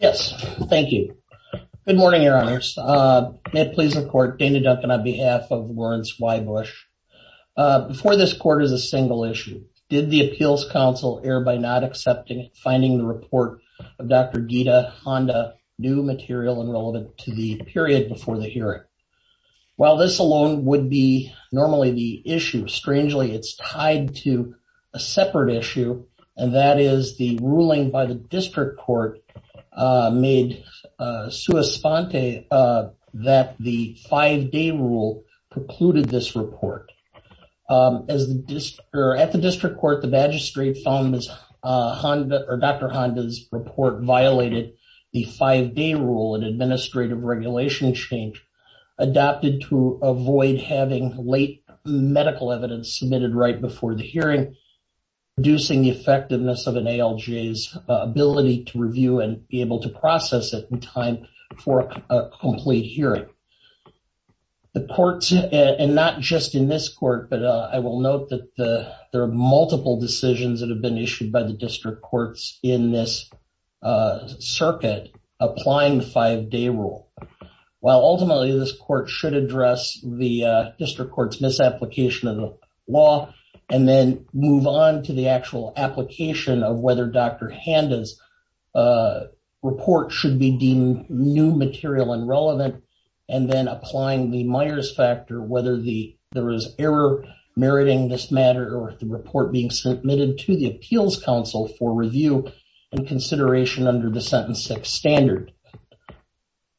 Yes, thank you. Good morning, your honors. May it please the court, Dana Duncan on behalf of Lawrence Wiebusch. Before this court is a single issue. Did the appeals counsel err by not accepting and finding the report of Dr. Gita Honda new material and relevant to the period before the hearing? While this alone would be normally the issue, strangely it's tied to a separate issue. And that is the ruling by the district court made sua sponte that the five day rule precluded this report. As the district or at the district court, the magistrate found this Honda or Dr. Honda's report violated the five day rule and administrative regulation change adopted to avoid having late medical evidence submitted right before the hearing, reducing the effectiveness of an ALJ's ability to review and be able to process it in time for a complete hearing. The court and not just in this court, but I will note that the there are multiple decisions that have been issued by the district courts in this circuit, applying the five day rule. While ultimately this court should address the district court's misapplication of the law and then move on to the actual application of whether Dr. Honda's report should be deemed new material and relevant. And then applying the Myers factor, whether there is error meriting this matter or the report being submitted to the appeals counsel for review and consideration under the sentence six standard.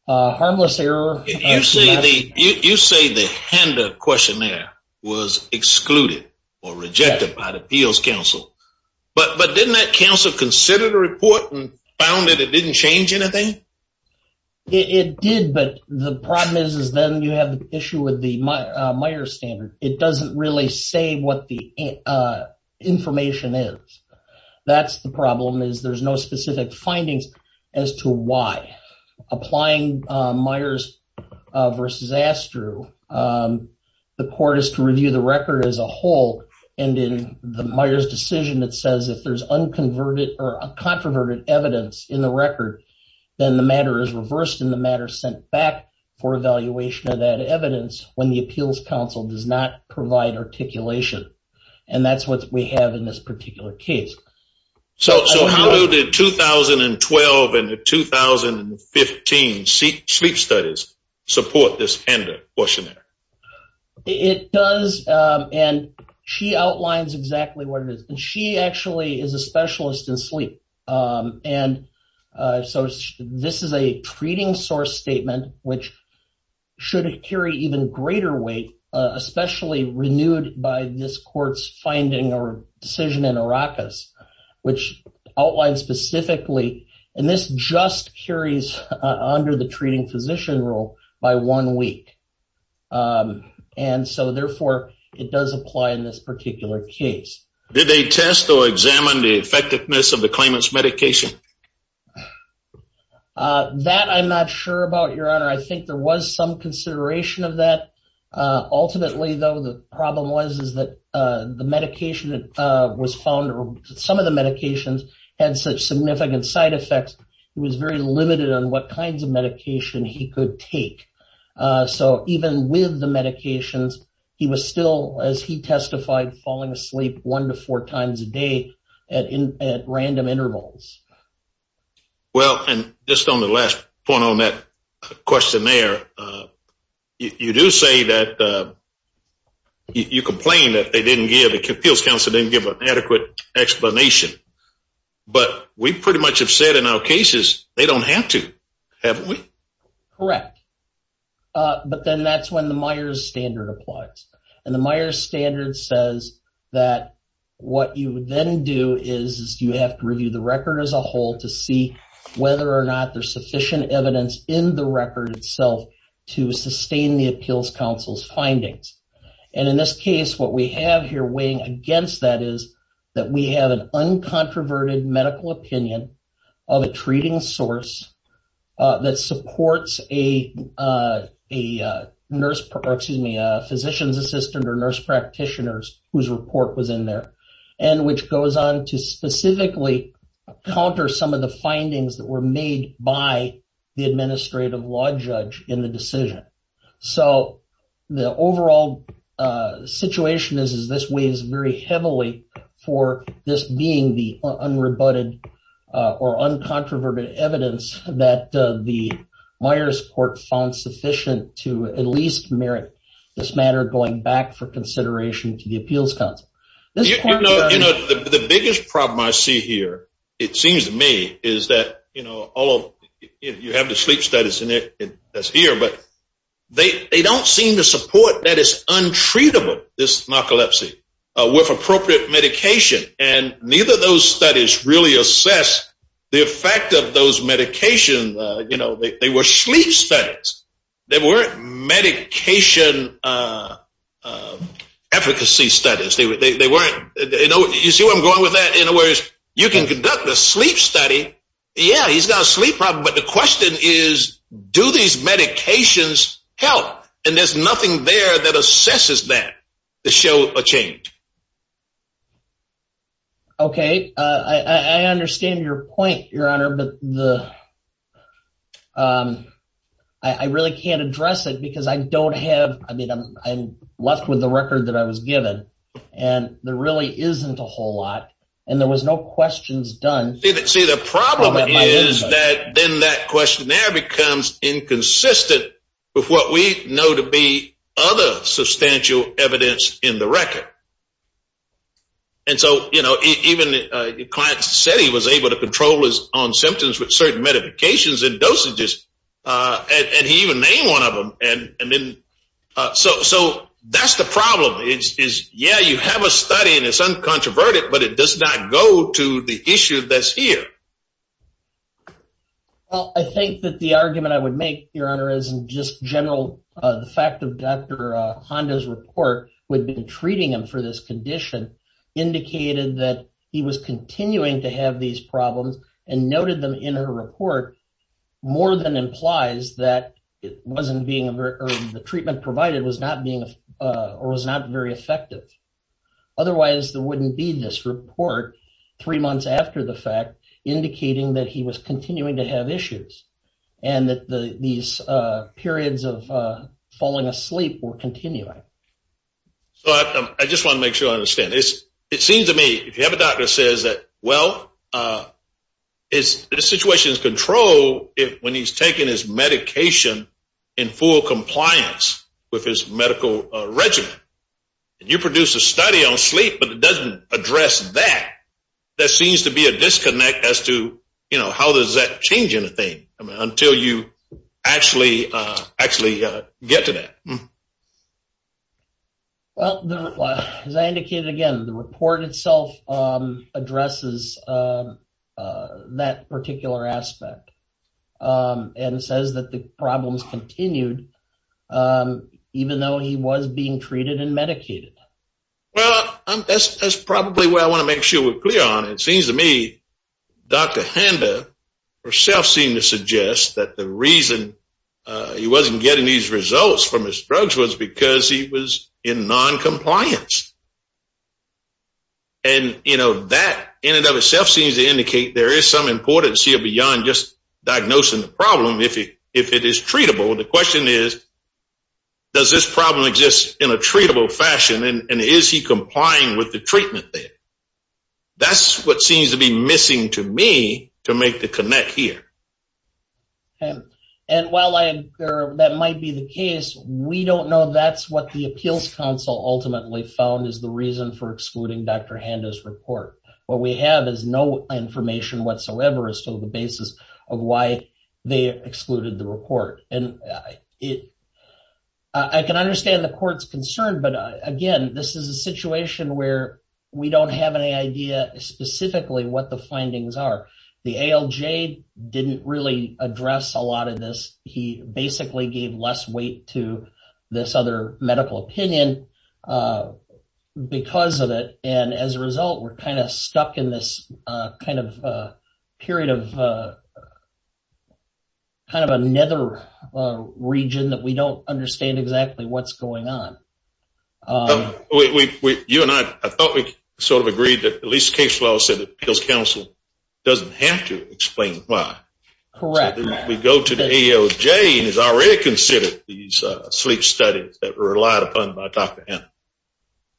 Harmless error. You say the Honda questionnaire was excluded or rejected by the appeals counsel, but didn't that counsel consider the report and found that it didn't change anything? It did, but the problem is, is then you have an issue with the Myers standard. It doesn't really say what the information is. That's the problem is there's no specific findings as to why applying Myers versus Astru. The court is to review the record as a whole. And in the Myers decision, it says if there's unconverted or a controverted evidence in the record, then the matter is reversed in the matter sent back for evaluation of that evidence. When appeals counsel does not provide articulation. And that's what we have in this particular case. So how did 2012 and 2015 sleep studies support this Handa questionnaire? It does. And she outlines exactly what it is. And she actually is a specialist in sleep. And especially renewed by this court's finding or decision in Arrakis, which outlined specifically, and this just carries under the treating physician role by one week. And so therefore, it does apply in this particular case. Did they test or examine the effectiveness of the claimants medication? That I'm not sure about your honor. I think there was some consideration of that. Ultimately, though, the problem was, is that the medication was found or some of the medications had such significant side effects, he was very limited on what kinds of medication he could take. So even with the medications, he was still as he testified falling asleep one to four times a day at random intervals. Well, and just on the last point on that questionnaire, you do say that you complain that they didn't give the appeals counselor didn't give an adequate explanation. But we pretty much have said in our cases, they don't have to, haven't we? Correct. But then that's when the Myers standard applies. And the Myers standard says that what you would then do is you have to review the record as a itself to sustain the appeals counsel's findings. And in this case, what we have here weighing against that is that we have an uncontroverted medical opinion of a treating source that supports a nurse, excuse me, a physician's assistant or nurse practitioners whose report was in there, and which goes on to specifically counter some of the findings that were made by the administrative law judge in the decision. So the overall situation is, is this weighs very heavily for this being the unrebutted or uncontroverted evidence that the Myers court found sufficient to at least merit this matter going back for consideration to the appeals council. You know, the biggest problem I see here, it seems to me is that, you know, all of you have the sleep studies in it, that's here, but they don't seem to support that it's untreatable, this narcolepsy with appropriate medication. And neither of those studies really assess the effect of those medications. You know, they were sleep studies. They weren't medication efficacy studies. They weren't, you know, you see where I'm going with that in a way is you can conduct a sleep study. Yeah, he's got a sleep problem, but the question is, do these medications help? And there's nothing there that assesses that to show a change. Okay, I understand your point, your honor, but the, um, I really can't address it because I don't have, I mean, I'm left with the record that I was given and there really isn't a whole lot. And there was no questions done. See, the problem is that then that questionnaire becomes inconsistent with what we know to be other substantial evidence in the record. And so, you know, even the client said he was able to control his own symptoms with certain medications and dosages, uh, and he even named one of them. And, and then, uh, so, so that's the problem is, is yeah, you have a study and it's uncontroverted, but it does not go to the issue that's here. Well, I think that the argument I would make your honor, isn't just general. Uh, the fact of Dr. Honda's report would be treating him for this condition indicated that he was continuing to have these problems and noted them in her report more than implies that it wasn't being a very early, the treatment provided was not being, uh, or was not very effective. Otherwise there wouldn't be this report three months after the fact indicating that he was continuing to have issues and that the, these, uh, periods of, uh, falling asleep or continuing. So I just want to make sure I understand this. It seems to me, if you have a doctor that says that, well, uh, it's the situation is controlled it when he's taking his medication in full compliance with his medical regimen and you produce a study on sleep, but it doesn't address that. That seems to be a disconnect as to, you know, how does that change anything until you actually, uh, actually, uh, get to that? Well, as I indicated again, the report itself, um, addresses, um, uh, that particular aspect, um, and it says that the problems continued, um, even though he was being treated and medicated. Well, that's probably where I want to make sure we're clear on. It seems to me, Dr. Handa herself seemed to suggest that the reason, uh, he wasn't getting these results from his drugs was because he was in non-compliance. And, you know, that in and of itself seems to indicate there is some importance here beyond just diagnosing the problem. If he, if it is treatable, the question is, does this problem exist in a treatable fashion and is he complying with the treatment there? That's what seems to be missing to me to make the connect here. Okay. And while I, or that might be the case, we don't know that's what the appeals council ultimately found is the reason for excluding Dr. Handa's report. What we have is no information whatsoever as to the basis of why they excluded the report. And I, it, I can understand the court's concern, but again, this is a situation where we don't have any idea specifically what the findings are. The ALJ didn't really address a lot of this. He basically gave less weight to this other medical opinion, uh, because of it. And as a result, we're kind of stuck in this, uh, kind of, uh, period of, uh, kind of a nether, uh, region that we don't understand exactly what's going on. We, we, you and I, I thought we sort of agreed that at least case law said that appeals council doesn't have to explain why. Correct. We go to the ALJ and has already considered these, uh, sleep studies that were relied upon by Dr. Handa.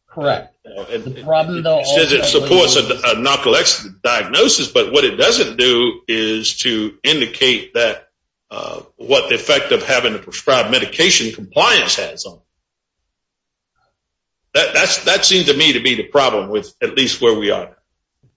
Correct. It says it supports a narcolepsy diagnosis, but what it doesn't do is to indicate that, uh, what the effect of having prescribed medication compliance has on it. That, that's, that seems to me to be the problem with at least where we are now.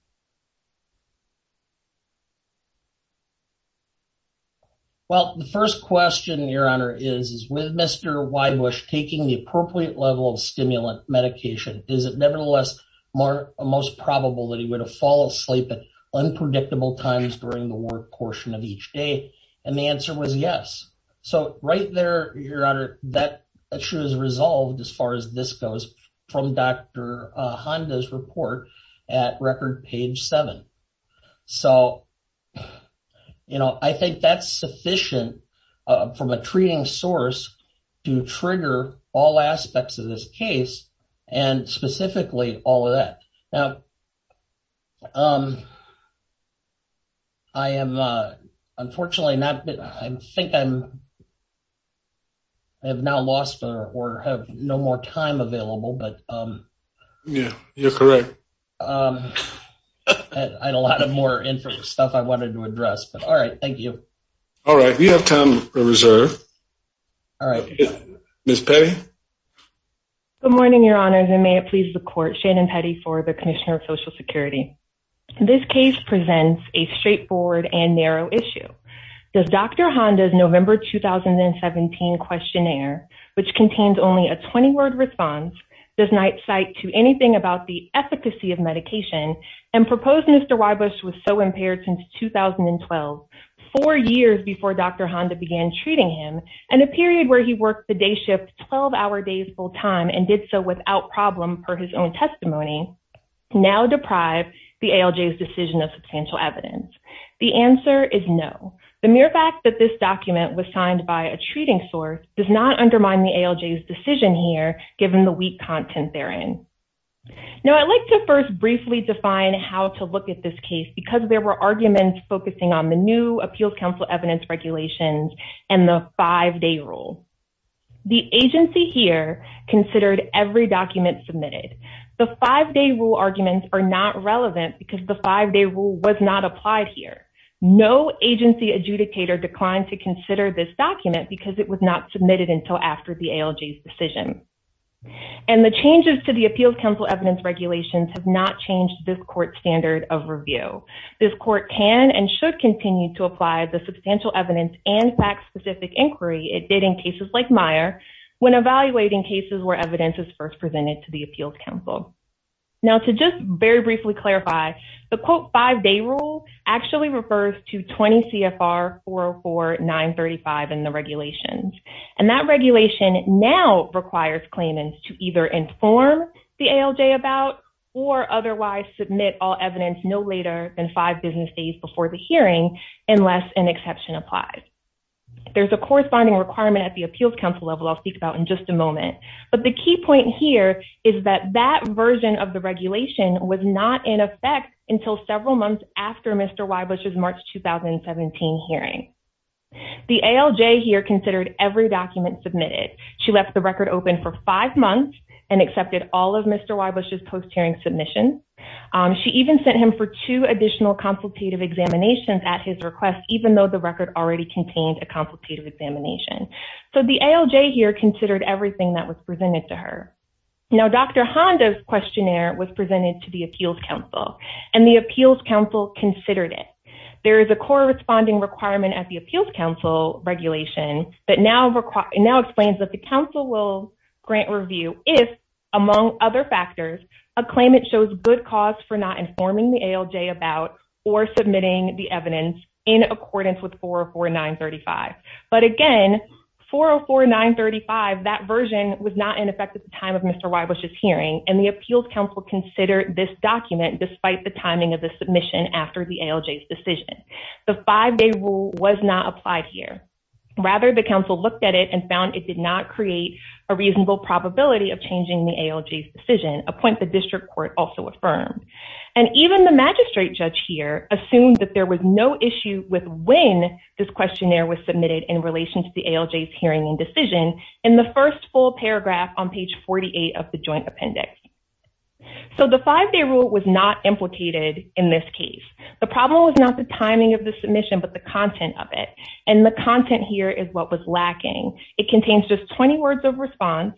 Well, the first question your honor is, is with Mr. Whybush taking the appropriate level of stimulant medication, is it nevertheless more, most probable that he would have fall asleep at unpredictable times during the work portion of the case? Right there, your honor, that issue is resolved as far as this goes from Dr. Handa's report at record page seven. So, you know, I think that's sufficient from a treating source to trigger all aspects of this case and specifically all of that. Now, um, I am, uh, unfortunately not, I think I'm, I have now lost or have no more time available, but, um, yeah, you're correct. Um, I had a lot of more inference stuff I wanted to address, but all right, thank you. All right. We have time reserved. All right. Ms. Petty. Good morning, your honors. And may it please the court, Shannon Petty for the commissioner of a straightforward and narrow issue. Does Dr. Honda's November, 2017 questionnaire, which contains only a 20 word response, does not cite to anything about the efficacy of medication and proposed Mr. Whybush was so impaired since 2012, four years before Dr. Honda began treating him and a period where he worked the day shift 12 hour days full time and did so without problem per his own testimony now deprive the ALJ's decision of substantial evidence. The answer is no. The mere fact that this document was signed by a treating source does not undermine the ALJ's decision here, given the weak content therein. Now I'd like to first briefly define how to look at this case because there were arguments focusing on the new appeals council evidence regulations and the five day rule. The agency here considered every document submitted. The five day rule arguments are not relevant because the five day rule was not applied here. No agency adjudicator declined to consider this document because it was not submitted until after the ALJ's decision. And the changes to the appeals council evidence regulations have not changed this can and should continue to apply the substantial evidence and fact specific inquiry it did in cases like Meyer when evaluating cases where evidence is first presented to the appeals council. Now to just very briefly clarify the quote five day rule actually refers to 20 CFR 404 935 in the regulations and that regulation now requires claimants to either inform the ALJ about or otherwise submit all evidence no later than five business days before the hearing unless an exception applies. There's a corresponding requirement at the appeals council level I'll speak about in just a moment but the key point here is that that version of the regulation was not in effect until several months after Mr. Wybush's March 2017 hearing. The ALJ here considered every document submitted. She left the record open for five months and accepted all of Mr. Wybush's post-hearing submissions. She even sent him for two additional consultative examinations at his request even though the record already contained a consultative examination. So the ALJ here considered everything that was presented to her. Now Dr. Honda's questionnaire was presented to the appeals council and the appeals council considered it. There is a corresponding requirement at the appeals council regulation that now explains that the council will grant review if among other factors a claimant shows good cause for not informing the ALJ about or submitting the evidence in accordance with 404 935 but again 404 935 that version was not in effect at the time of Mr. Wybush's hearing and the appeals council considered this document despite the timing of the submission after the ALJ's decision. The five-day rule was not applied here rather the council looked at it and found it did not create a reasonable probability of changing the ALJ's decision a point the district court also affirmed and even the magistrate judge here assumed that there was no issue with when this questionnaire was submitted in relation to the ALJ's hearing and decision in the first full paragraph on page 48 of the joint appendix. So the five-day rule was not implicated in this case. The problem was not the timing of the submission but the content of it and the content here is what was lacking. It contains just 20 words of response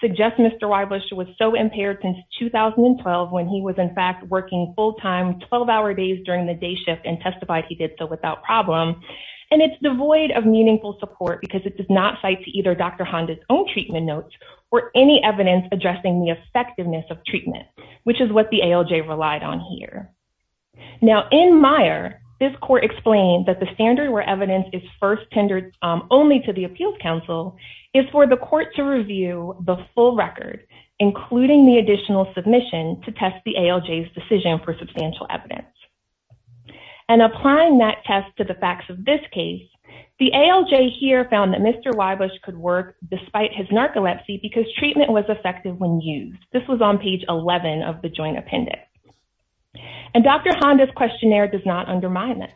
suggest Mr. Wybush was so impaired since 2012 when he was in fact working full-time 12-hour days during the day shift and testified he did so without problem and it's devoid of meaningful support because it does not cite to either Dr. Honda's own treatment notes or any evidence addressing the effectiveness of treatment which is what the ALJ relied on here. Now in Meijer this court explained that the standard where evidence is first tendered only to the appeals council is for the court to review the full record including the additional submission to test the ALJ's decision for substantial evidence and applying that test to the facts of this case the ALJ here found that Mr. Wybush could work despite his narcolepsy because treatment was effective when used this was on page 11 of the joint appendix and Dr. Honda's questionnaire does undermine that.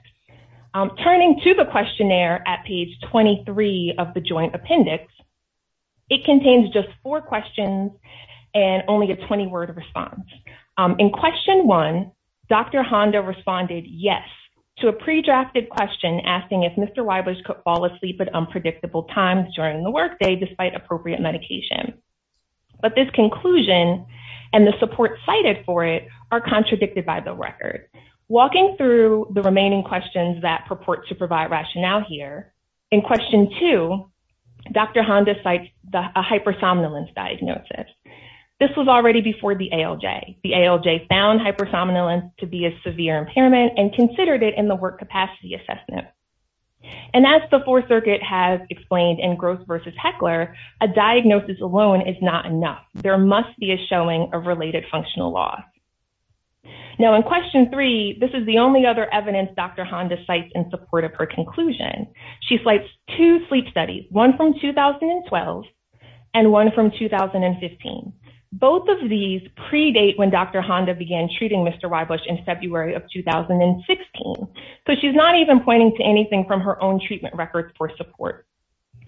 Turning to the questionnaire at page 23 of the joint appendix it contains just four questions and only a 20 word response. In question one Dr. Honda responded yes to a pre-drafted question asking if Mr. Wybush could fall asleep at unpredictable times during the workday despite appropriate medication but this conclusion and the support cited for it are the remaining questions that purport to provide rationale here. In question two Dr. Honda cites a hypersomnolence diagnosis this was already before the ALJ. The ALJ found hypersomnolence to be a severe impairment and considered it in the work capacity assessment and as the fourth circuit has explained in Gross versus Heckler a diagnosis alone is not enough there must be a showing of related functional loss. Now in question three this is the only other evidence Dr. Honda cites in support of her conclusion. She cites two sleep studies one from 2012 and one from 2015. Both of these predate when Dr. Honda began treating Mr. Wybush in February of 2016 so she's not even pointing to anything from her own treatment records for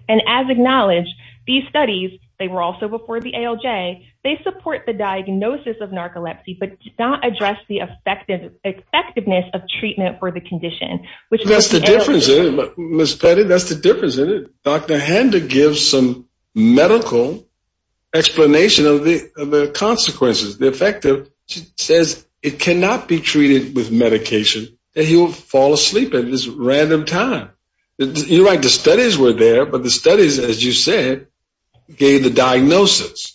and as acknowledged these studies they were also before the ALJ they support the diagnosis of narcolepsy but did not address the effective effectiveness of treatment for the condition. Which that's the difference in Miss Petty that's the difference in it Dr. Honda gives some medical explanation of the of the consequences the effective she says it cannot be treated with but the studies as you said gave the diagnosis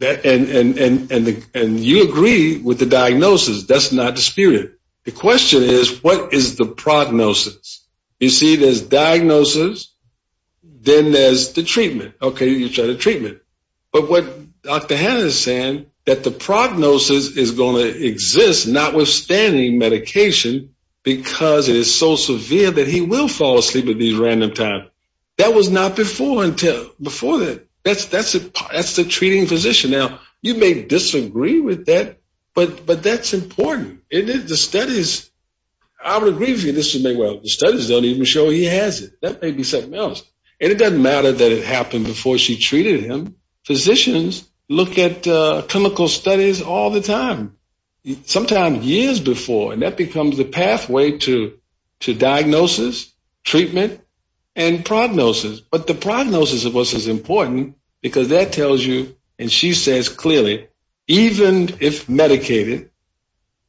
and you agree with the diagnosis that's not disputed the question is what is the prognosis you see there's diagnosis then there's the treatment okay you try the treatment but what Dr. Hanna is saying that the prognosis is going to random time that was not before until before that that's that's that's the treating physician now you may disagree with that but but that's important it is the studies I would agree with you this would make well the studies don't even show he has it that may be something else and it doesn't matter that it happened before she treated him physicians look at uh chemical studies all the and prognosis but the prognosis of us is important because that tells you and she says clearly even if medicated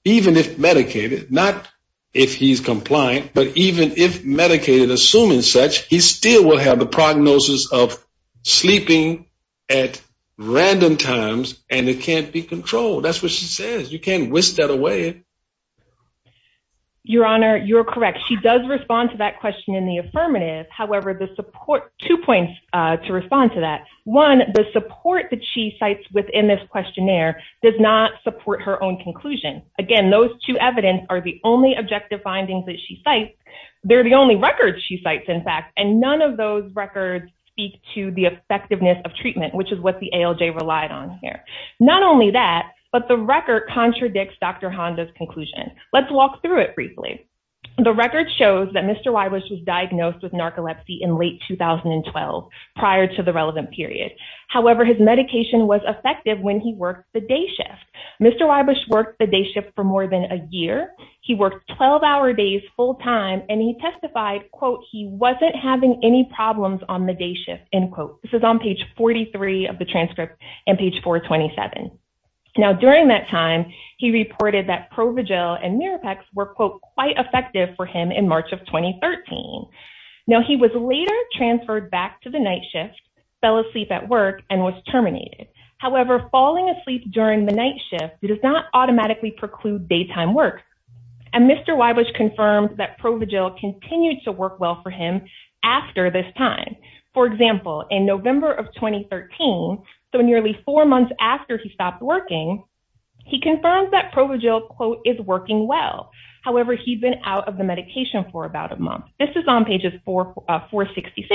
even if medicated not if he's compliant but even if medicated assuming such he still will have the prognosis of sleeping at random times and it can't be controlled that's what she says you can't whisk that away your honor you're correct she does respond to that question in the affirmative however the support two points uh to respond to that one the support that she cites within this questionnaire does not support her own conclusion again those two evidence are the only objective findings that she cites they're the only records she cites in fact and none of those records speak to the effectiveness of treatment which is what the ALJ relied on here not only that but the record contradicts Dr. Honda's conclusion let's walk through it briefly the record shows that Mr. Wybush was diagnosed with narcolepsy in late 2012 prior to the relevant period however his medication was effective when he worked the day shift Mr. Wybush worked the day shift for more than a year he worked 12 hour days full time and he testified quote he wasn't having any problems on the day shift end quote this is on page 43 of the transcript and page 427 now during that time he reported that Provigil and Mirapax were quote quite effective for him in March of 2013 now he was later transferred back to the night shift fell asleep at work and was terminated however falling asleep during the night shift does not automatically preclude daytime work and Mr. Wybush confirmed that Provigil continued to work well for him after this time for example in November of 2013 so nearly four months after he stopped working he confirms that Provigil quote is working well however he'd been out of the medication for about a month this is on pages 466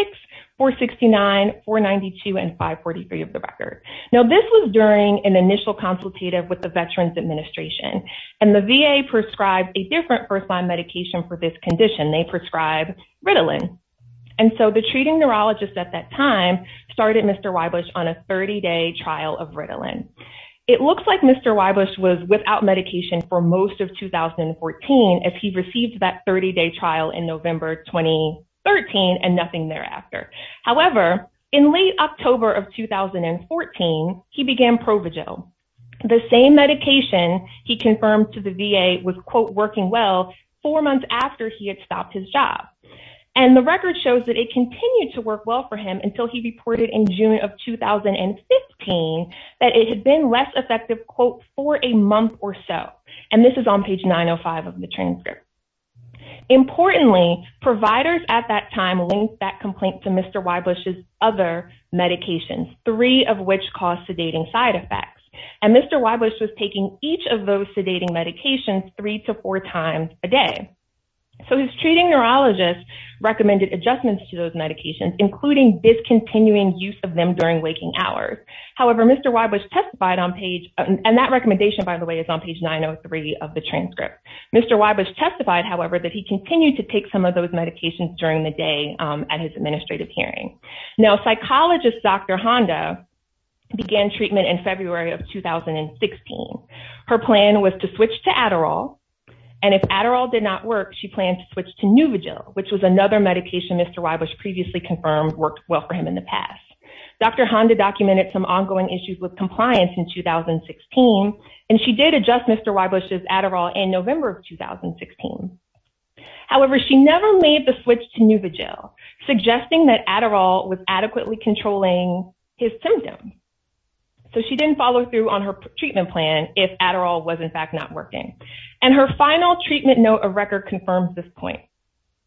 469 492 and 543 of the record now this was during an initial consultative with the Veterans Administration and the VA prescribed a different first-line medication for this condition they prescribe Ritalin and so the treating neurologist at that time started Mr. Wybush on a 30-day trial of Ritalin it looks like Mr. Wybush was without medication for most of 2014 as he received that 30-day trial in November 2013 and nothing thereafter however in late October of 2014 he began Provigil the same medication he confirmed to the VA was quote working well four months after he had stopped his job and the record shows that it continued to work well for him until he reported in June of 2015 that it had been less effective quote for a month or so and this is on page 905 of the transcript importantly providers at that time linked that complaint to Mr. Wybush's other medications three of which caused sedating side effects and Mr. Wybush was taking each of those so his treating neurologist recommended adjustments to those medications including discontinuing use of them during waking hours however Mr. Wybush testified on page and that recommendation by the way is on page 903 of the transcript Mr. Wybush testified however that he continued to take some of those medications during the day at his administrative hearing now psychologist Dr. Honda began treatment in February of 2016 her plan was to switch to Adderall and if Adderall did not work she planned to switch to Nuvigil which was another medication Mr. Wybush previously confirmed worked well for him in the past Dr. Honda documented some ongoing issues with compliance in 2016 and she did adjust Mr. Wybush's Adderall in November of 2016 however she never made the switch to Nuvigil suggesting that Adderall was adequately controlling his symptoms so she didn't follow through on her treatment plan if Adderall was in fact not working and her final treatment note of record confirms this point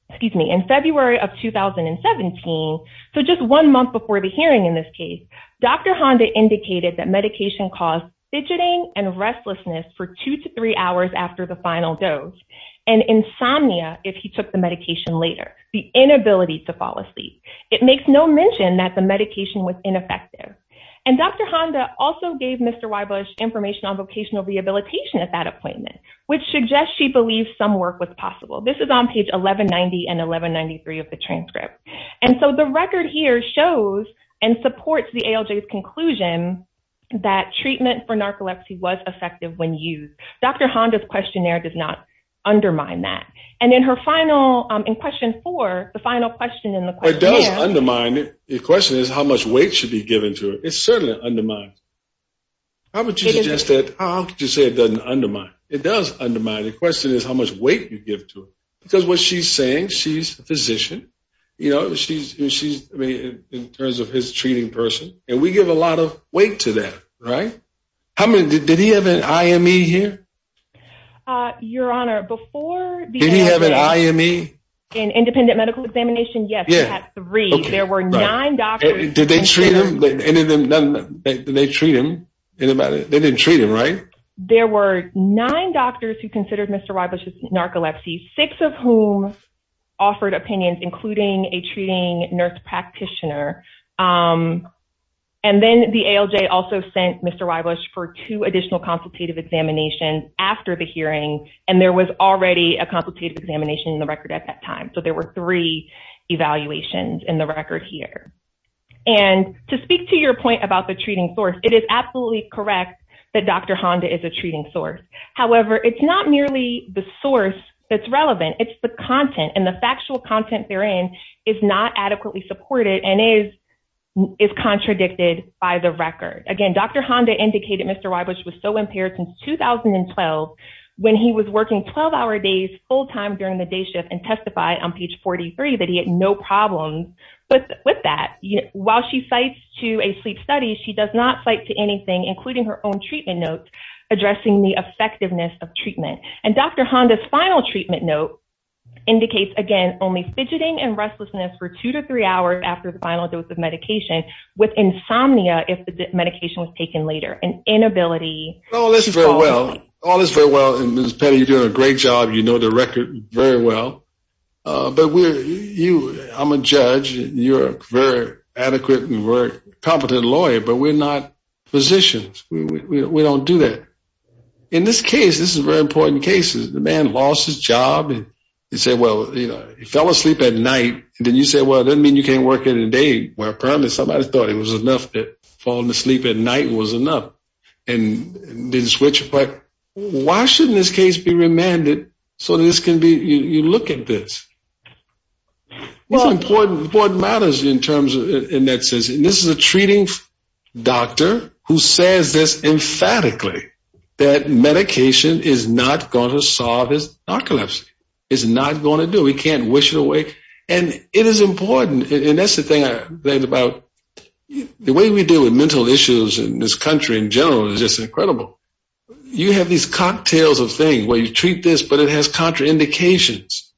excuse me in February of 2017 so just one month before the hearing in this case Dr. Honda indicated that medication caused fidgeting and restlessness for two to three hours after the final dose and insomnia if he took the medication later the inability to fall asleep it makes no mention that the medication was ineffective and Dr. Honda also gave Mr. Wybush information on vocational rehabilitation at that appointment which suggests she believes some work was possible this is on page 1190 and 1193 of the transcript and so the record here shows and supports the ALJ's conclusion that treatment for narcolepsy was effective when used Dr. Honda's questionnaire does not undermine that and in her final um in question four the final question in the question does undermine it the question is how much weight should be given to it it certainly undermines how would you suggest that how could you say it doesn't undermine it does undermine the question is how much weight you give to it because what she's saying she's a physician you know she's she's I mean in terms of his treating person and we give a lot of weight to that right how many did he have an IME here uh your honor before did he have an IME an independent medical examination yes he had three there were nine doctors did they treat him any of them none they treat him anybody they didn't treat him right there were nine doctors who considered Mr. Wybush's narcolepsy six of whom offered opinions including a treating nurse practitioner um and then the ALJ also sent Mr. Wybush for two additional consultative examinations after the hearing and there was already a consultative examination in the record at that time so there were three evaluations in the record here and to speak to your point about the treating source it is absolutely correct that Dr. Honda is a treating source however it's not merely the source that's relevant it's the content and the factual content therein is not adequately supported and is is contradicted by the record again Dr. Honda indicated Mr. Wybush was so impaired since 2012 when he was working 12-hour days full-time during the day shift and testified on page 43 that he had no problems but with that while she cites to a sleep study she does not cite to anything including her own treatment notes addressing the effectiveness of treatment and Dr. Honda's final treatment note indicates again only fidgeting and restlessness for two to three hours after the final dose of medication with insomnia if the medication was taken later an inability oh that's very well all this very well and Ms. Petty you're doing a great job you know the record very well uh but we're you I'm a judge you're a very adequate and very competent lawyer but we're not physicians we don't do that in this case this is very important cases the man lost his job and you say well you know he fell asleep at night and then you say well it doesn't mean you can't work at a day where apparently somebody thought it was enough that falling asleep at night was you look at this well important important matters in terms of in that sense and this is a treating doctor who says this emphatically that medication is not going to solve his narcolepsy it's not going to do we can't wish it away and it is important and that's the thing I think about the way we deal with mental issues in this country in general is just incredible you have these cocktails of things where you treat this but it has contraindications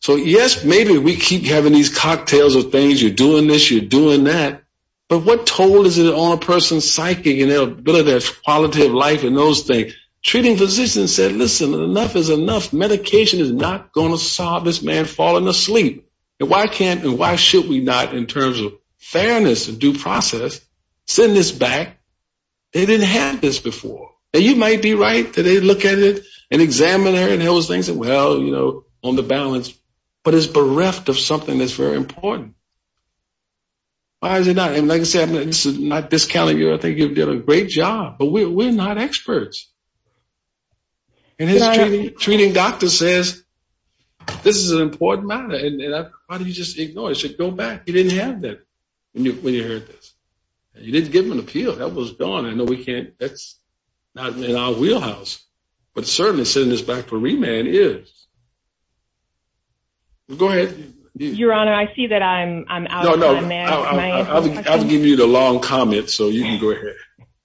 so yes maybe we keep having these cocktails of things you're doing this you're doing that but what toll is it on a person's psyche and their ability that quality of life and those things treating physicians said listen enough is enough medication is not going to solve this man falling asleep and why can't and why should we not in terms of fairness and due process send this back they didn't have this before and you might be right that they look at it and examine her and those things and well you know on the balance but it's bereft of something that's very important why is it not and like I said this is not discounting you I think you've done a great job but we're not experts and his treating doctor says this is an important matter and how do you just ignore it should go back you didn't have that when you when you heard this you didn't give him an appeal that was done I know we can't that's not in our wheelhouse but certainly sending this back for remand is go ahead your honor I see that I'm I'm out no no I've given you the long comment so you can go ahead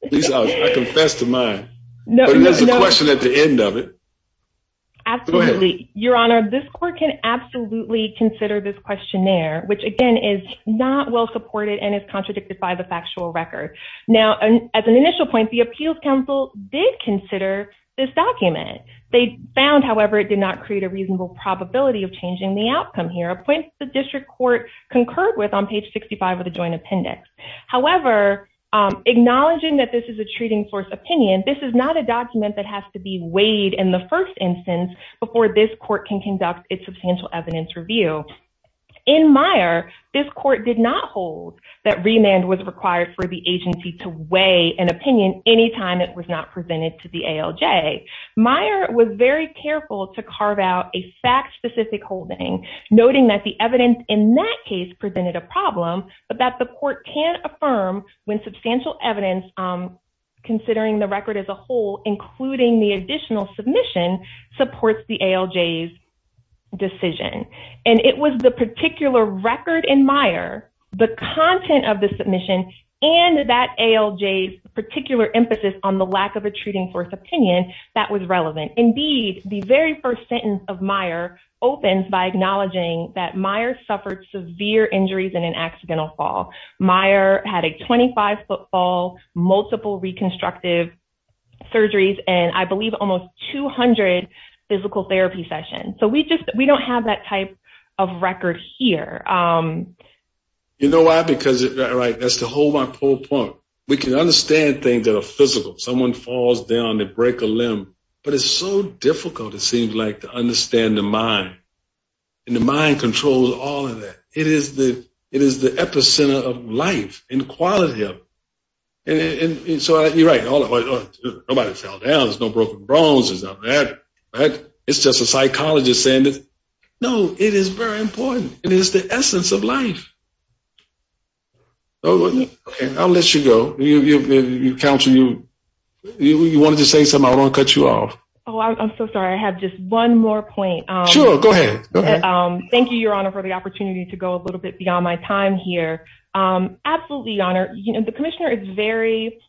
please I confess to mine no there's a question at the end of it absolutely your honor this court can absolutely consider this questionnaire which again is not well supported and is contradicted by the factual record now as an initial point the appeals council did consider this document they found however it did not create a reasonable probability of changing the outcome here appoints the district court concurred with on page 65 of the joint appendix however acknowledging that this is a treating source opinion this is not a document that has to be weighed in the first instance before this court can conduct its substantial evidence review in Meyer this court did not hold that remand was required for the agency to weigh an opinion anytime it was not presented to the ALJ Meyer was very careful to carve out a fact-specific holding noting that the evidence in that case presented a problem but that the court can't affirm when substantial evidence considering the record as a whole including the additional submission supports the ALJ's decision and it was the particular record in Meyer the content of the submission and that ALJ's particular emphasis on the lack of a treating force opinion that was relevant indeed the very first sentence of Meyer opens by acknowledging that Meyer suffered severe injuries in an accidental fall Meyer had a 25 foot fall multiple reconstructive surgeries and I physical therapy session so we just we don't have that type of record here you know why because right that's the whole my whole point we can understand things that are physical someone falls down to break a limb but it's so difficult it seems like to understand the mind and the mind controls all of that it is the it is the epicenter of life and quality of it and so you're right nobody fell down there's no broken bones it's not that it's just a psychologist saying that no it is very important it is the essence of life oh okay I'll let you go you you counsel you you wanted to say something I want to cut you off oh I'm so sorry I have just one more point um sure go ahead um thank you your honor for the opportunity to go a little bit beyond my time here um absolutely honor you know the commissioner is very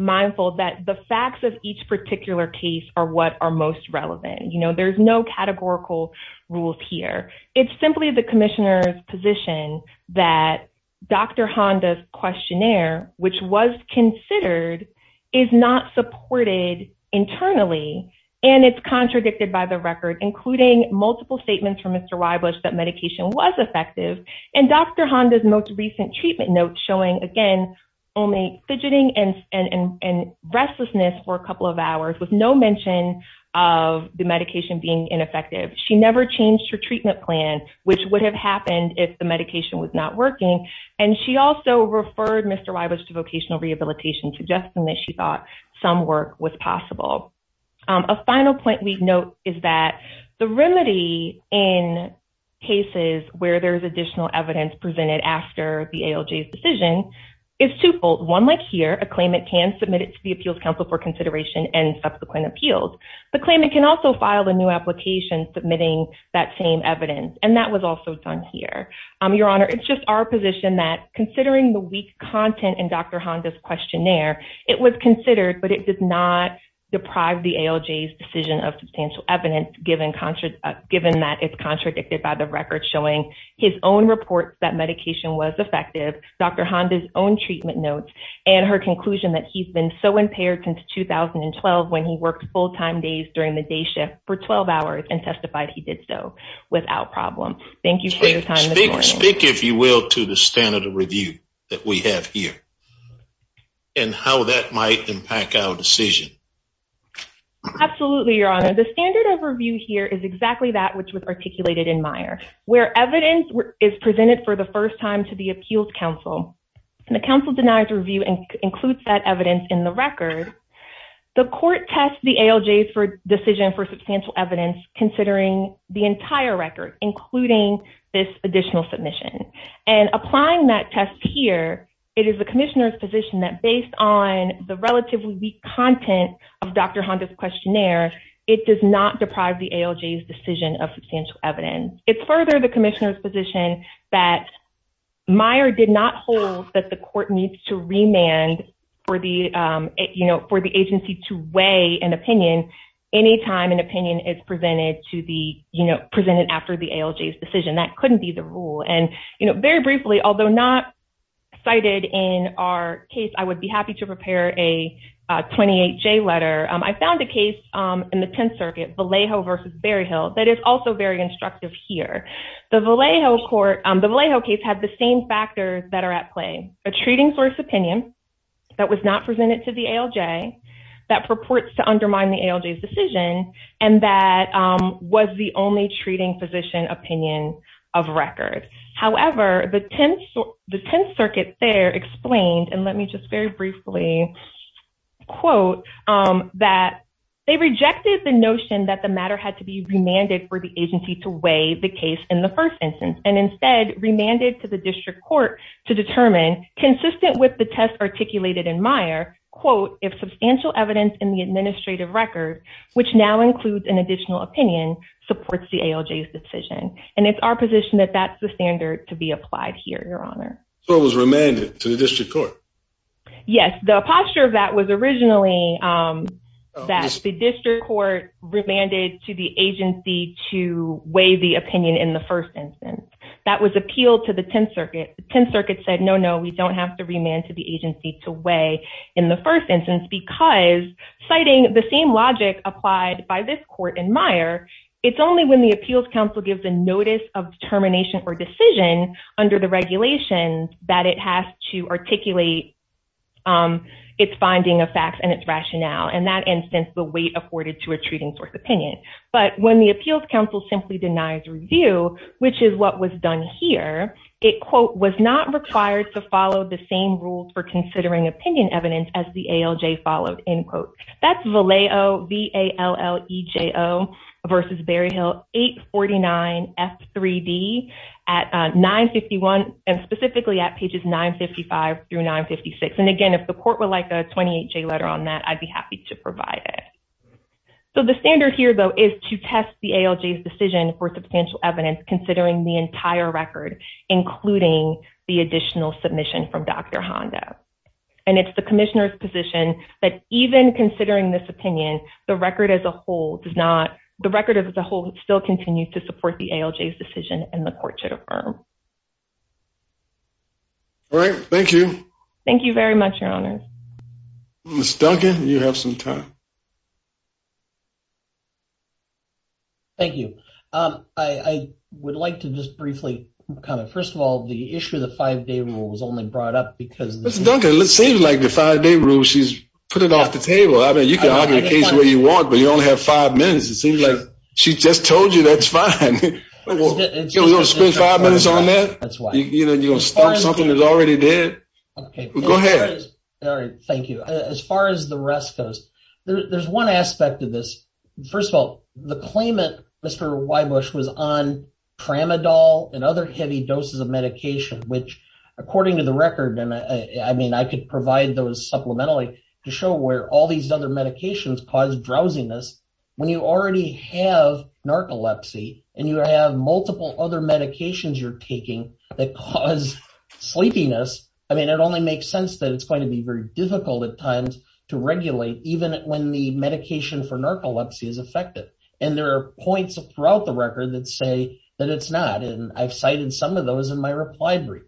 mindful that the facts of each particular case are what are most relevant you know there's no categorical rules here it's simply the commissioner's position that Dr. Honda's questionnaire which was considered is not supported internally and it's contradicted by the record including multiple statements from Mr. Wybush that medication was effective and Dr. Honda's most recent treatment notes showing again only fidgeting and and and restlessness for a couple of hours with no mention of the medication being ineffective she never changed her treatment plan which would have happened if the medication was not working and she also referred Mr. Wybush to vocational rehabilitation suggesting that she thought some work was possible a final point we note is that the remedy in cases where there's additional evidence presented after the ALJ's decision is twofold one like here a claimant can submit it to the appeals council for consideration and subsequent appeals the claimant can also file a new application submitting that same evidence and that was also done here um your honor it's just our position that considering the weak content in Dr. Honda's questionnaire it was considered but it did not deprive the ALJ's decision of substantial evidence given concert reports that medication was effective Dr. Honda's own treatment notes and her conclusion that he's been so impaired since 2012 when he worked full-time days during the day shift for 12 hours and testified he did so without problem thank you for your time speak if you will to the standard of review that we have here and how that might impact our decision absolutely your honor the standard of review here is exactly that which was articulated in Meyer where evidence is presented for the first time to the appeals council and the council denies review and includes that evidence in the record the court tests the ALJ's for decision for substantial evidence considering the entire record including this additional submission and applying that test here it is the commissioner's position that based on the relatively weak content of Dr. Honda's questionnaire it does not deprive the ALJ's decision of substantial evidence it's further the commissioner's position that Meyer did not hold that the court needs to remand for the you know for the agency to weigh an opinion anytime an opinion is presented to the you know presented after the ALJ's decision that couldn't be the rule and you know very briefly although not cited in our case I would be happy to prepare a 28j letter I found a case in the 10th circuit Vallejo versus Berryhill that is also very instructive here the Vallejo court the Vallejo case had the same factors that are at play a treating source opinion that was not presented to the ALJ that purports to undermine the ALJ's decision and that was the only treating physician opinion of record however the 10th the 10th circuit there explained and let me just very briefly quote that they rejected the notion that the matter had to be remanded for the agency to weigh the case in the first instance and instead remanded to the district court to determine consistent with the test articulated in Meyer quote if substantial evidence in the administrative record which now includes an additional opinion supports the ALJ's decision and it's our position that that's the standard to be applied here your honor so it was remanded to the district court yes the posture of that was originally that the district court remanded to the agency to weigh the opinion in the first instance that was appealed to the 10th circuit 10th circuit said no no we don't have to remand to the agency to weigh in the first instance because citing the same logic applied by this court in Meyer it's only when the appeals council gives a notice of determination or decision under the regulations that it has to articulate its finding of facts and its rationale in that instance the weight afforded to a treating source opinion but when the appeals council simply denies review which is what was done here it quote was not required to follow the same rules for considering opinion evidence as the ALJ followed in quote that's Vallejo V-A-L-L-E-J-O versus Berryhill 849-F-3-D at 951 and specifically at pages 955 through 956 and again if the court would like a 28-J letter on that I'd be happy to provide it so the standard here though is to test the ALJ's decision for substantial evidence considering the entire record including the additional submission from Dr. Honda and it's the commissioner's position that even considering this as a whole it still continues to support the ALJ's decision and the court should affirm all right thank you thank you very much your honor miss Duncan you have some time thank you um I I would like to just briefly kind of first of all the issue of the five-day rule was only brought up because it seems like the five-day rule she's put it off the table I mean you can have your case where you want but you only have five minutes it seems like she just told you that's fine we're gonna spend five minutes on that that's why you know you're gonna start something that's already there okay go ahead all right thank you as far as the rest goes there's one aspect of this first of all the claimant Mr. Weibusch was on tramadol and other heavy doses of medication which according to the record and I mean I could provide those supplementally to show where all these other medications cause drowsiness when you already have narcolepsy and you have multiple other medications you're taking that cause sleepiness I mean it only makes sense that it's going to be very difficult at times to regulate even when the medication for narcolepsy is effective and there are points throughout the record that say that it's not and I've cited some of those in my reply brief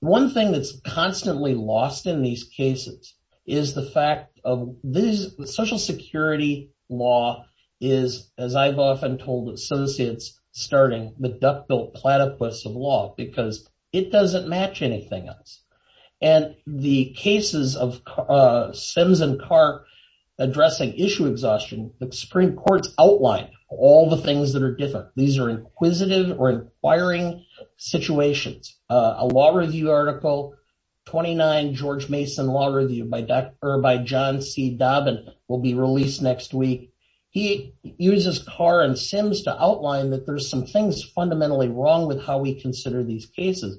one thing that's constantly lost in these cases is the fact of this social security law is as I've often told associates starting the duck-billed platypus of law because it doesn't match anything else and the cases of sims and car addressing issue exhaustion the supreme court's outlined all the things that are different these are inquisitive or inquiring situations a law review article 29 george mason law review by dr by john c dobbin will be released next week he uses car and sims to outline that there's some things fundamentally wrong with how we consider these cases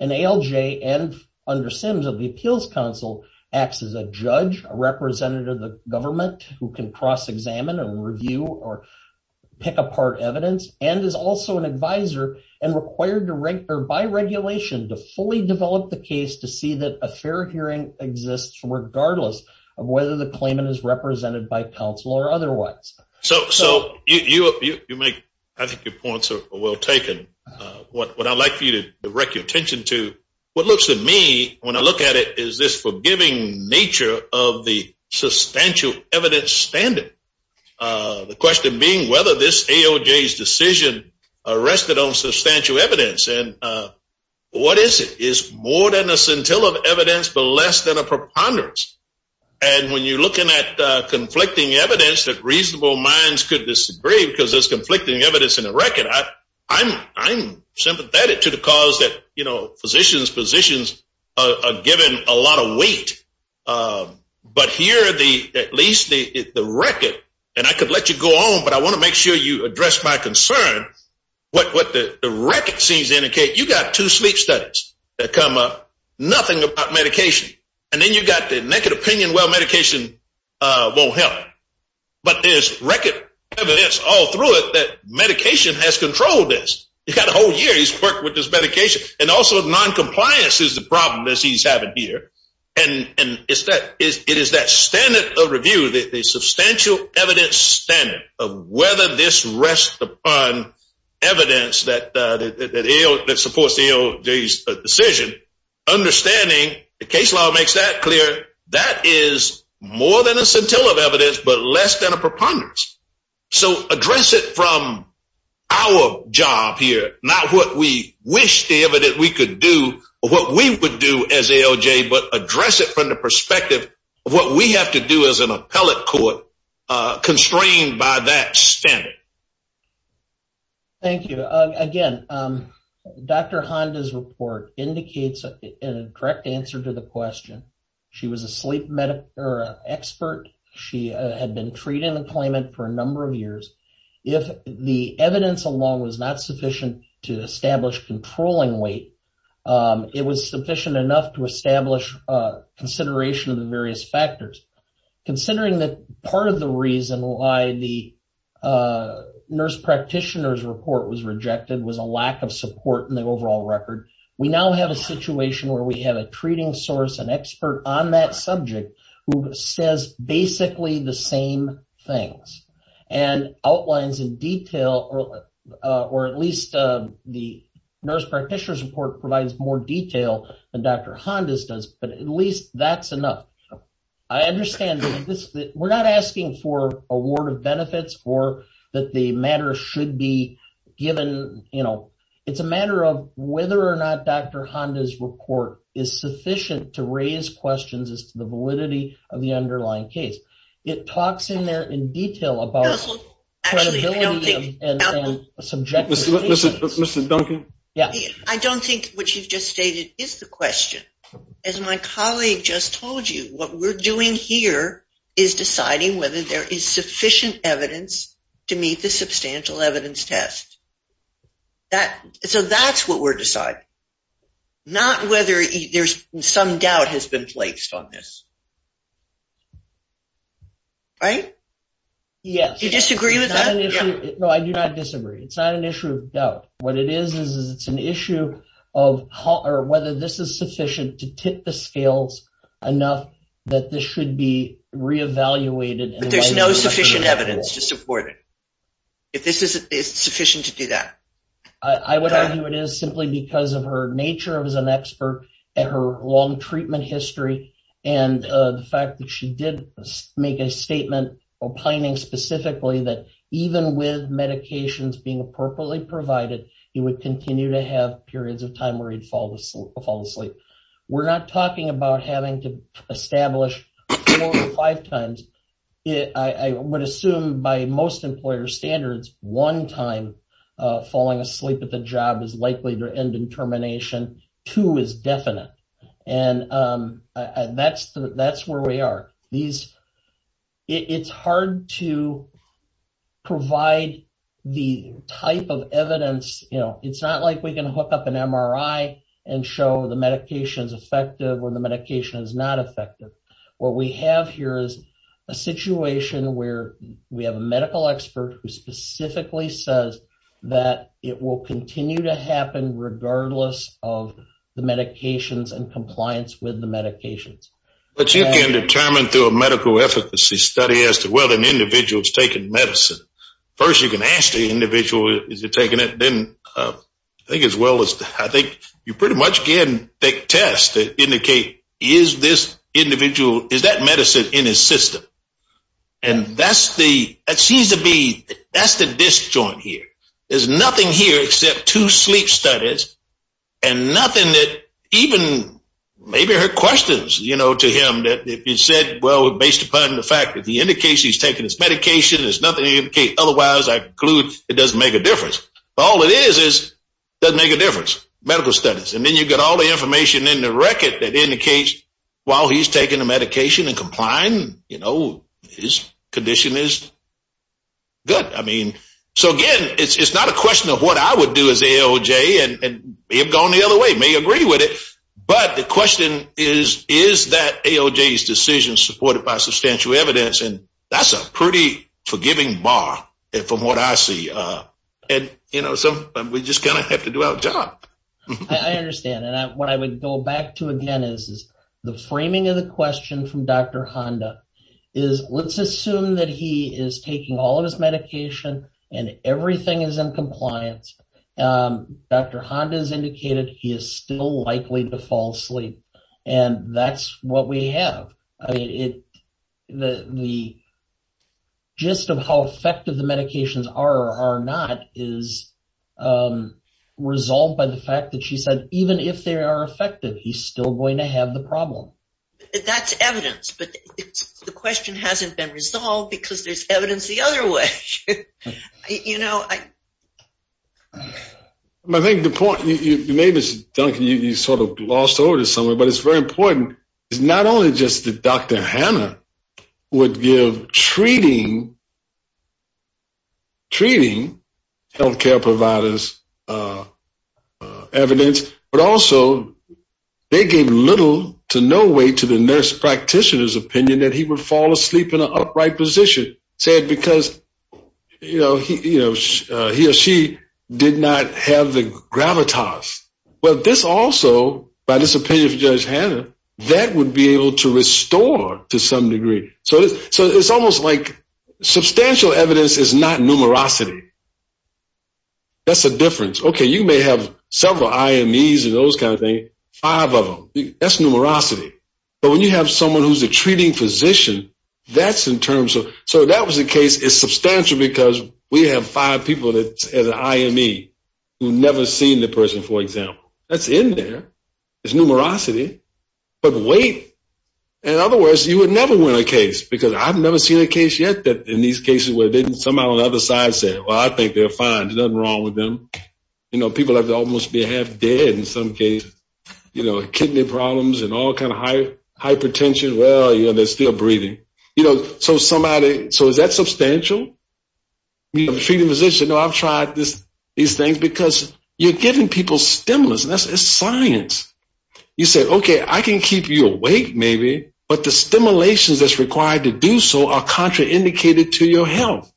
and alj and under sims of the appeals council acts as a judge a representative of the government who can cross-examine and review or pick apart evidence and is also an advisor and required to rank or by regulation to fully develop the case to see that a fair hearing exists regardless of whether the claimant is represented by council or otherwise so so you you make i think your points are well taken uh what i'd like for you to direct your attention to what looks to me when i look at it is this forgiving nature of the this aoj's decision uh rested on substantial evidence and uh what is it is more than a scintilla of evidence but less than a preponderance and when you're looking at uh conflicting evidence that reasonable minds could disagree because there's conflicting evidence in the record i i'm i'm sympathetic to the cause that you know physicians positions are given a lot of weight um but here the at least the the record and i could let you go on but i want to make sure you address my concern what what the record seems to indicate you got two sleep studies that come up nothing about medication and then you got the naked opinion well medication uh won't help but there's record evidence all through it that medication has controlled this you got a whole year he's worked with this medication and also non-compliance is the problem that he's having and and it's that is it is that standard of review the substantial evidence standard of whether this rests upon evidence that uh that supports the decision understanding the case law makes that clear that is more than a scintilla of evidence but less than a preponderance so address it from our job here not what we wish the evidence we could do what we would do as but address it from the perspective of what we have to do as an appellate court uh constrained by that standard thank you again um dr honda's report indicates a direct answer to the question she was a sleep medic or an expert she had been treating the claimant for a number of years if the evidence alone was not sufficient to establish controlling weight um it was sufficient enough to establish uh consideration of the various factors considering that part of the reason why the uh nurse practitioner's report was rejected was a lack of support in the overall record we now have a situation where we have a treating source an expert on that subject who says basically the same things and outlines in detail or uh or at least uh the nurse practitioner's provides more detail than dr honda's does but at least that's enough i understand that this we're not asking for award of benefits or that the matter should be given you know it's a matter of whether or not dr honda's report is sufficient to raise questions as to the validity of the underlying case it talks in there in detail about credibility and subject mr duncan yeah i don't think what you've just stated is the question as my colleague just told you what we're doing here is deciding whether there is sufficient evidence to meet the substantial evidence test that so that's what we're deciding not whether there's some doubt has been placed on this right yes you disagree with that no i do not disagree it's not an issue of doubt what it is is it's an issue of how or whether this is sufficient to tip the scales enough that this should be re-evaluated but there's no sufficient evidence to support it if this isn't it's sufficient to do that i i would argue it is simply because of her nature of as an expert at her long treatment history and the fact that she did make a statement opining specifically that even with medications being appropriately provided he would continue to have periods of time where he'd fall asleep we're not talking about having to establish four or five times i would assume by most employer standards one time falling asleep at the job is likely to determination two is definite and um that's that's where we are these it's hard to provide the type of evidence you know it's not like we can hook up an mri and show the medications effective when the medication is not effective what we have here is a situation where we have a medical expert who specifically says that it will continue to happen regardless of the medications and compliance with the medications but you can determine through a medical efficacy study as to whether an individual is taking medicine first you can ask the individual is it taking it then i think as well as i think you pretty much can take tests to indicate is this individual is that medicine in his system and that's the that seems to be that's the disjoint here there's nothing here except two sleep studies and nothing that even maybe her questions you know to him that if you said well based upon the fact that he indicates he's taking his medication there's nothing to indicate otherwise i conclude it doesn't make a difference all it is is doesn't make a difference medical studies and then you get all the information in the record that indicates while he's taking the medication and complying you know his condition is good i mean so again it's not a question of what i would do as aoj and may have gone the other way may agree with it but the question is is that aoj's decision supported by substantial evidence and that's a pretty forgiving bar and from what i see uh and you know so we just kind of have to do our job i understand and i what i would go back to again is the framing of the question from dr honda is let's assume that he is taking all of his medication and everything is in compliance um dr honda is indicated he is still likely to fall and that's what we have i mean it the the gist of how effective the medications are or are not is um resolved by the fact that she said even if they are effective he's still going to have the problem that's evidence but the question hasn't been resolved because there's evidence the other way you know i i think the point maybe it's duncan you sort of lost over to someone but it's very important it's not only just that dr hannah would give treating treating health care providers uh evidence but also they gave little to no way to the nurse practitioner's opinion that he would fall asleep in an upright position said because you know he you know he or she did not have the gravitas but this also by this opinion of judge hannah that would be able to restore to some degree so so it's almost like substantial evidence is not numerosity that's a difference okay you may have several imes and those kind of things five of them that's numerosity but when you have someone who's a treating physician that's in terms of so that was the case it's substantial because we have five people that as an ime who never seen the person for example that's in there it's numerosity but wait in other words you would never win a case because i've never seen a case yet that in these cases where they didn't somehow on the other side said well i think they're fine there's nothing wrong with them you know people have to almost be half dead in some cases you know kidney problems and all kind of hypertension well you know they're still breathing you know so somebody so is that substantial you know the treating physician no i've tried this these things because you're giving people stimulus that's a science you said okay i can keep you awake maybe but the stimulations that's required to do so are contraindicated to your health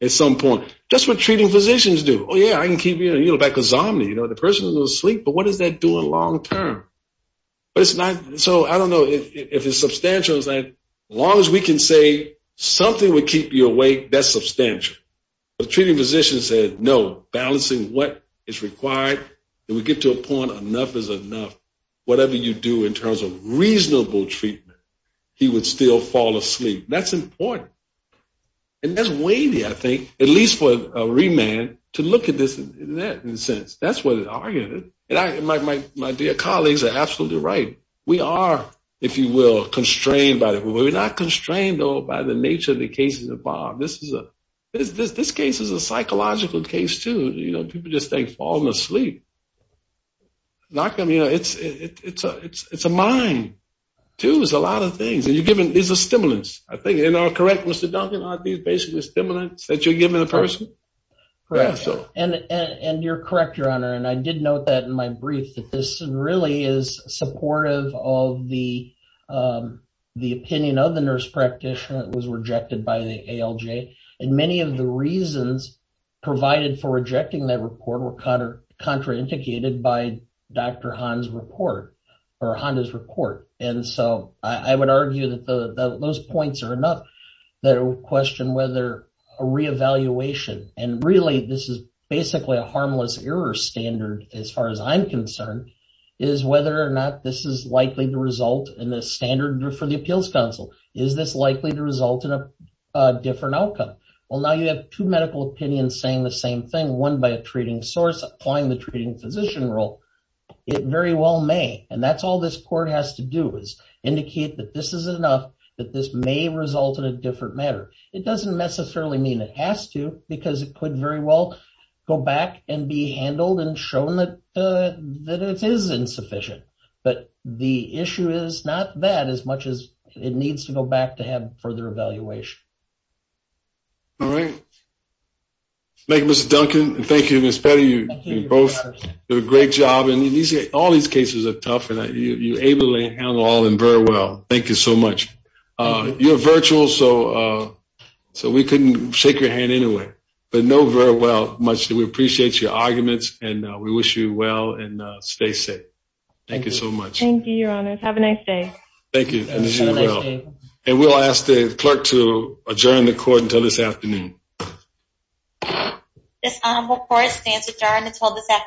at some point that's what treating physicians do oh yeah i can keep you you know back asomnia you know the person is asleep but what does that do in long term but it's not so i don't know if it's substantial as long as we can say something would keep you awake that's substantial the treating physician said no balancing what is required then we get to a point enough is enough whatever you do in terms of reasonable treatment he would still fall asleep that's important and that's wavy i think at least for a remand to look at this in that in a sense that's what it argued and i my my dear colleagues are absolutely right we are if you will constrained by that we're not constrained though by the nature of the cases involved this is a this this case is a psychological case too you know people just think falling asleep knock them you know it's it's a it's it's a mind too is a lot of things and you're giving is a stimulus i think in our correct mr duncan are these basically stimulants that you're giving the person correct so and and you're correct your honor and i did note that in my brief that this really is supportive of the um the opinion of the nurse practitioner that was rejected by the alj and many of the reasons provided for rejecting that report were counter contraindicated by dr han's report or honda's report and so i i would argue that the those points are enough that question whether a reevaluation and really this is basically a harmless error standard as far as i'm concerned is whether or not this is likely to result in the standard for the appeals council is this likely to result in a different outcome well now you have two medical opinions saying the same thing one by a treating source applying the treating physician role it very well may and that's all this court has to do is indicate that this is enough that this may result in a different matter it doesn't necessarily mean it has to because it could very well go back and be handled and shown that uh that it is insufficient but the issue is not that as much as it needs to go back to have further evaluation all right thank you mr duncan thank you miss petty you both do a great job and these all these cases are tough and you ably handle all and very well thank you so much uh you're virtual so uh so we couldn't shake your hand anyway but know very well much that we appreciate your arguments and we wish you well and stay safe thank you so much thank you your honor have a nice day thank you and we'll ask the clerk to adjourn the court until this afternoon this honorable court stands adjourned until this hour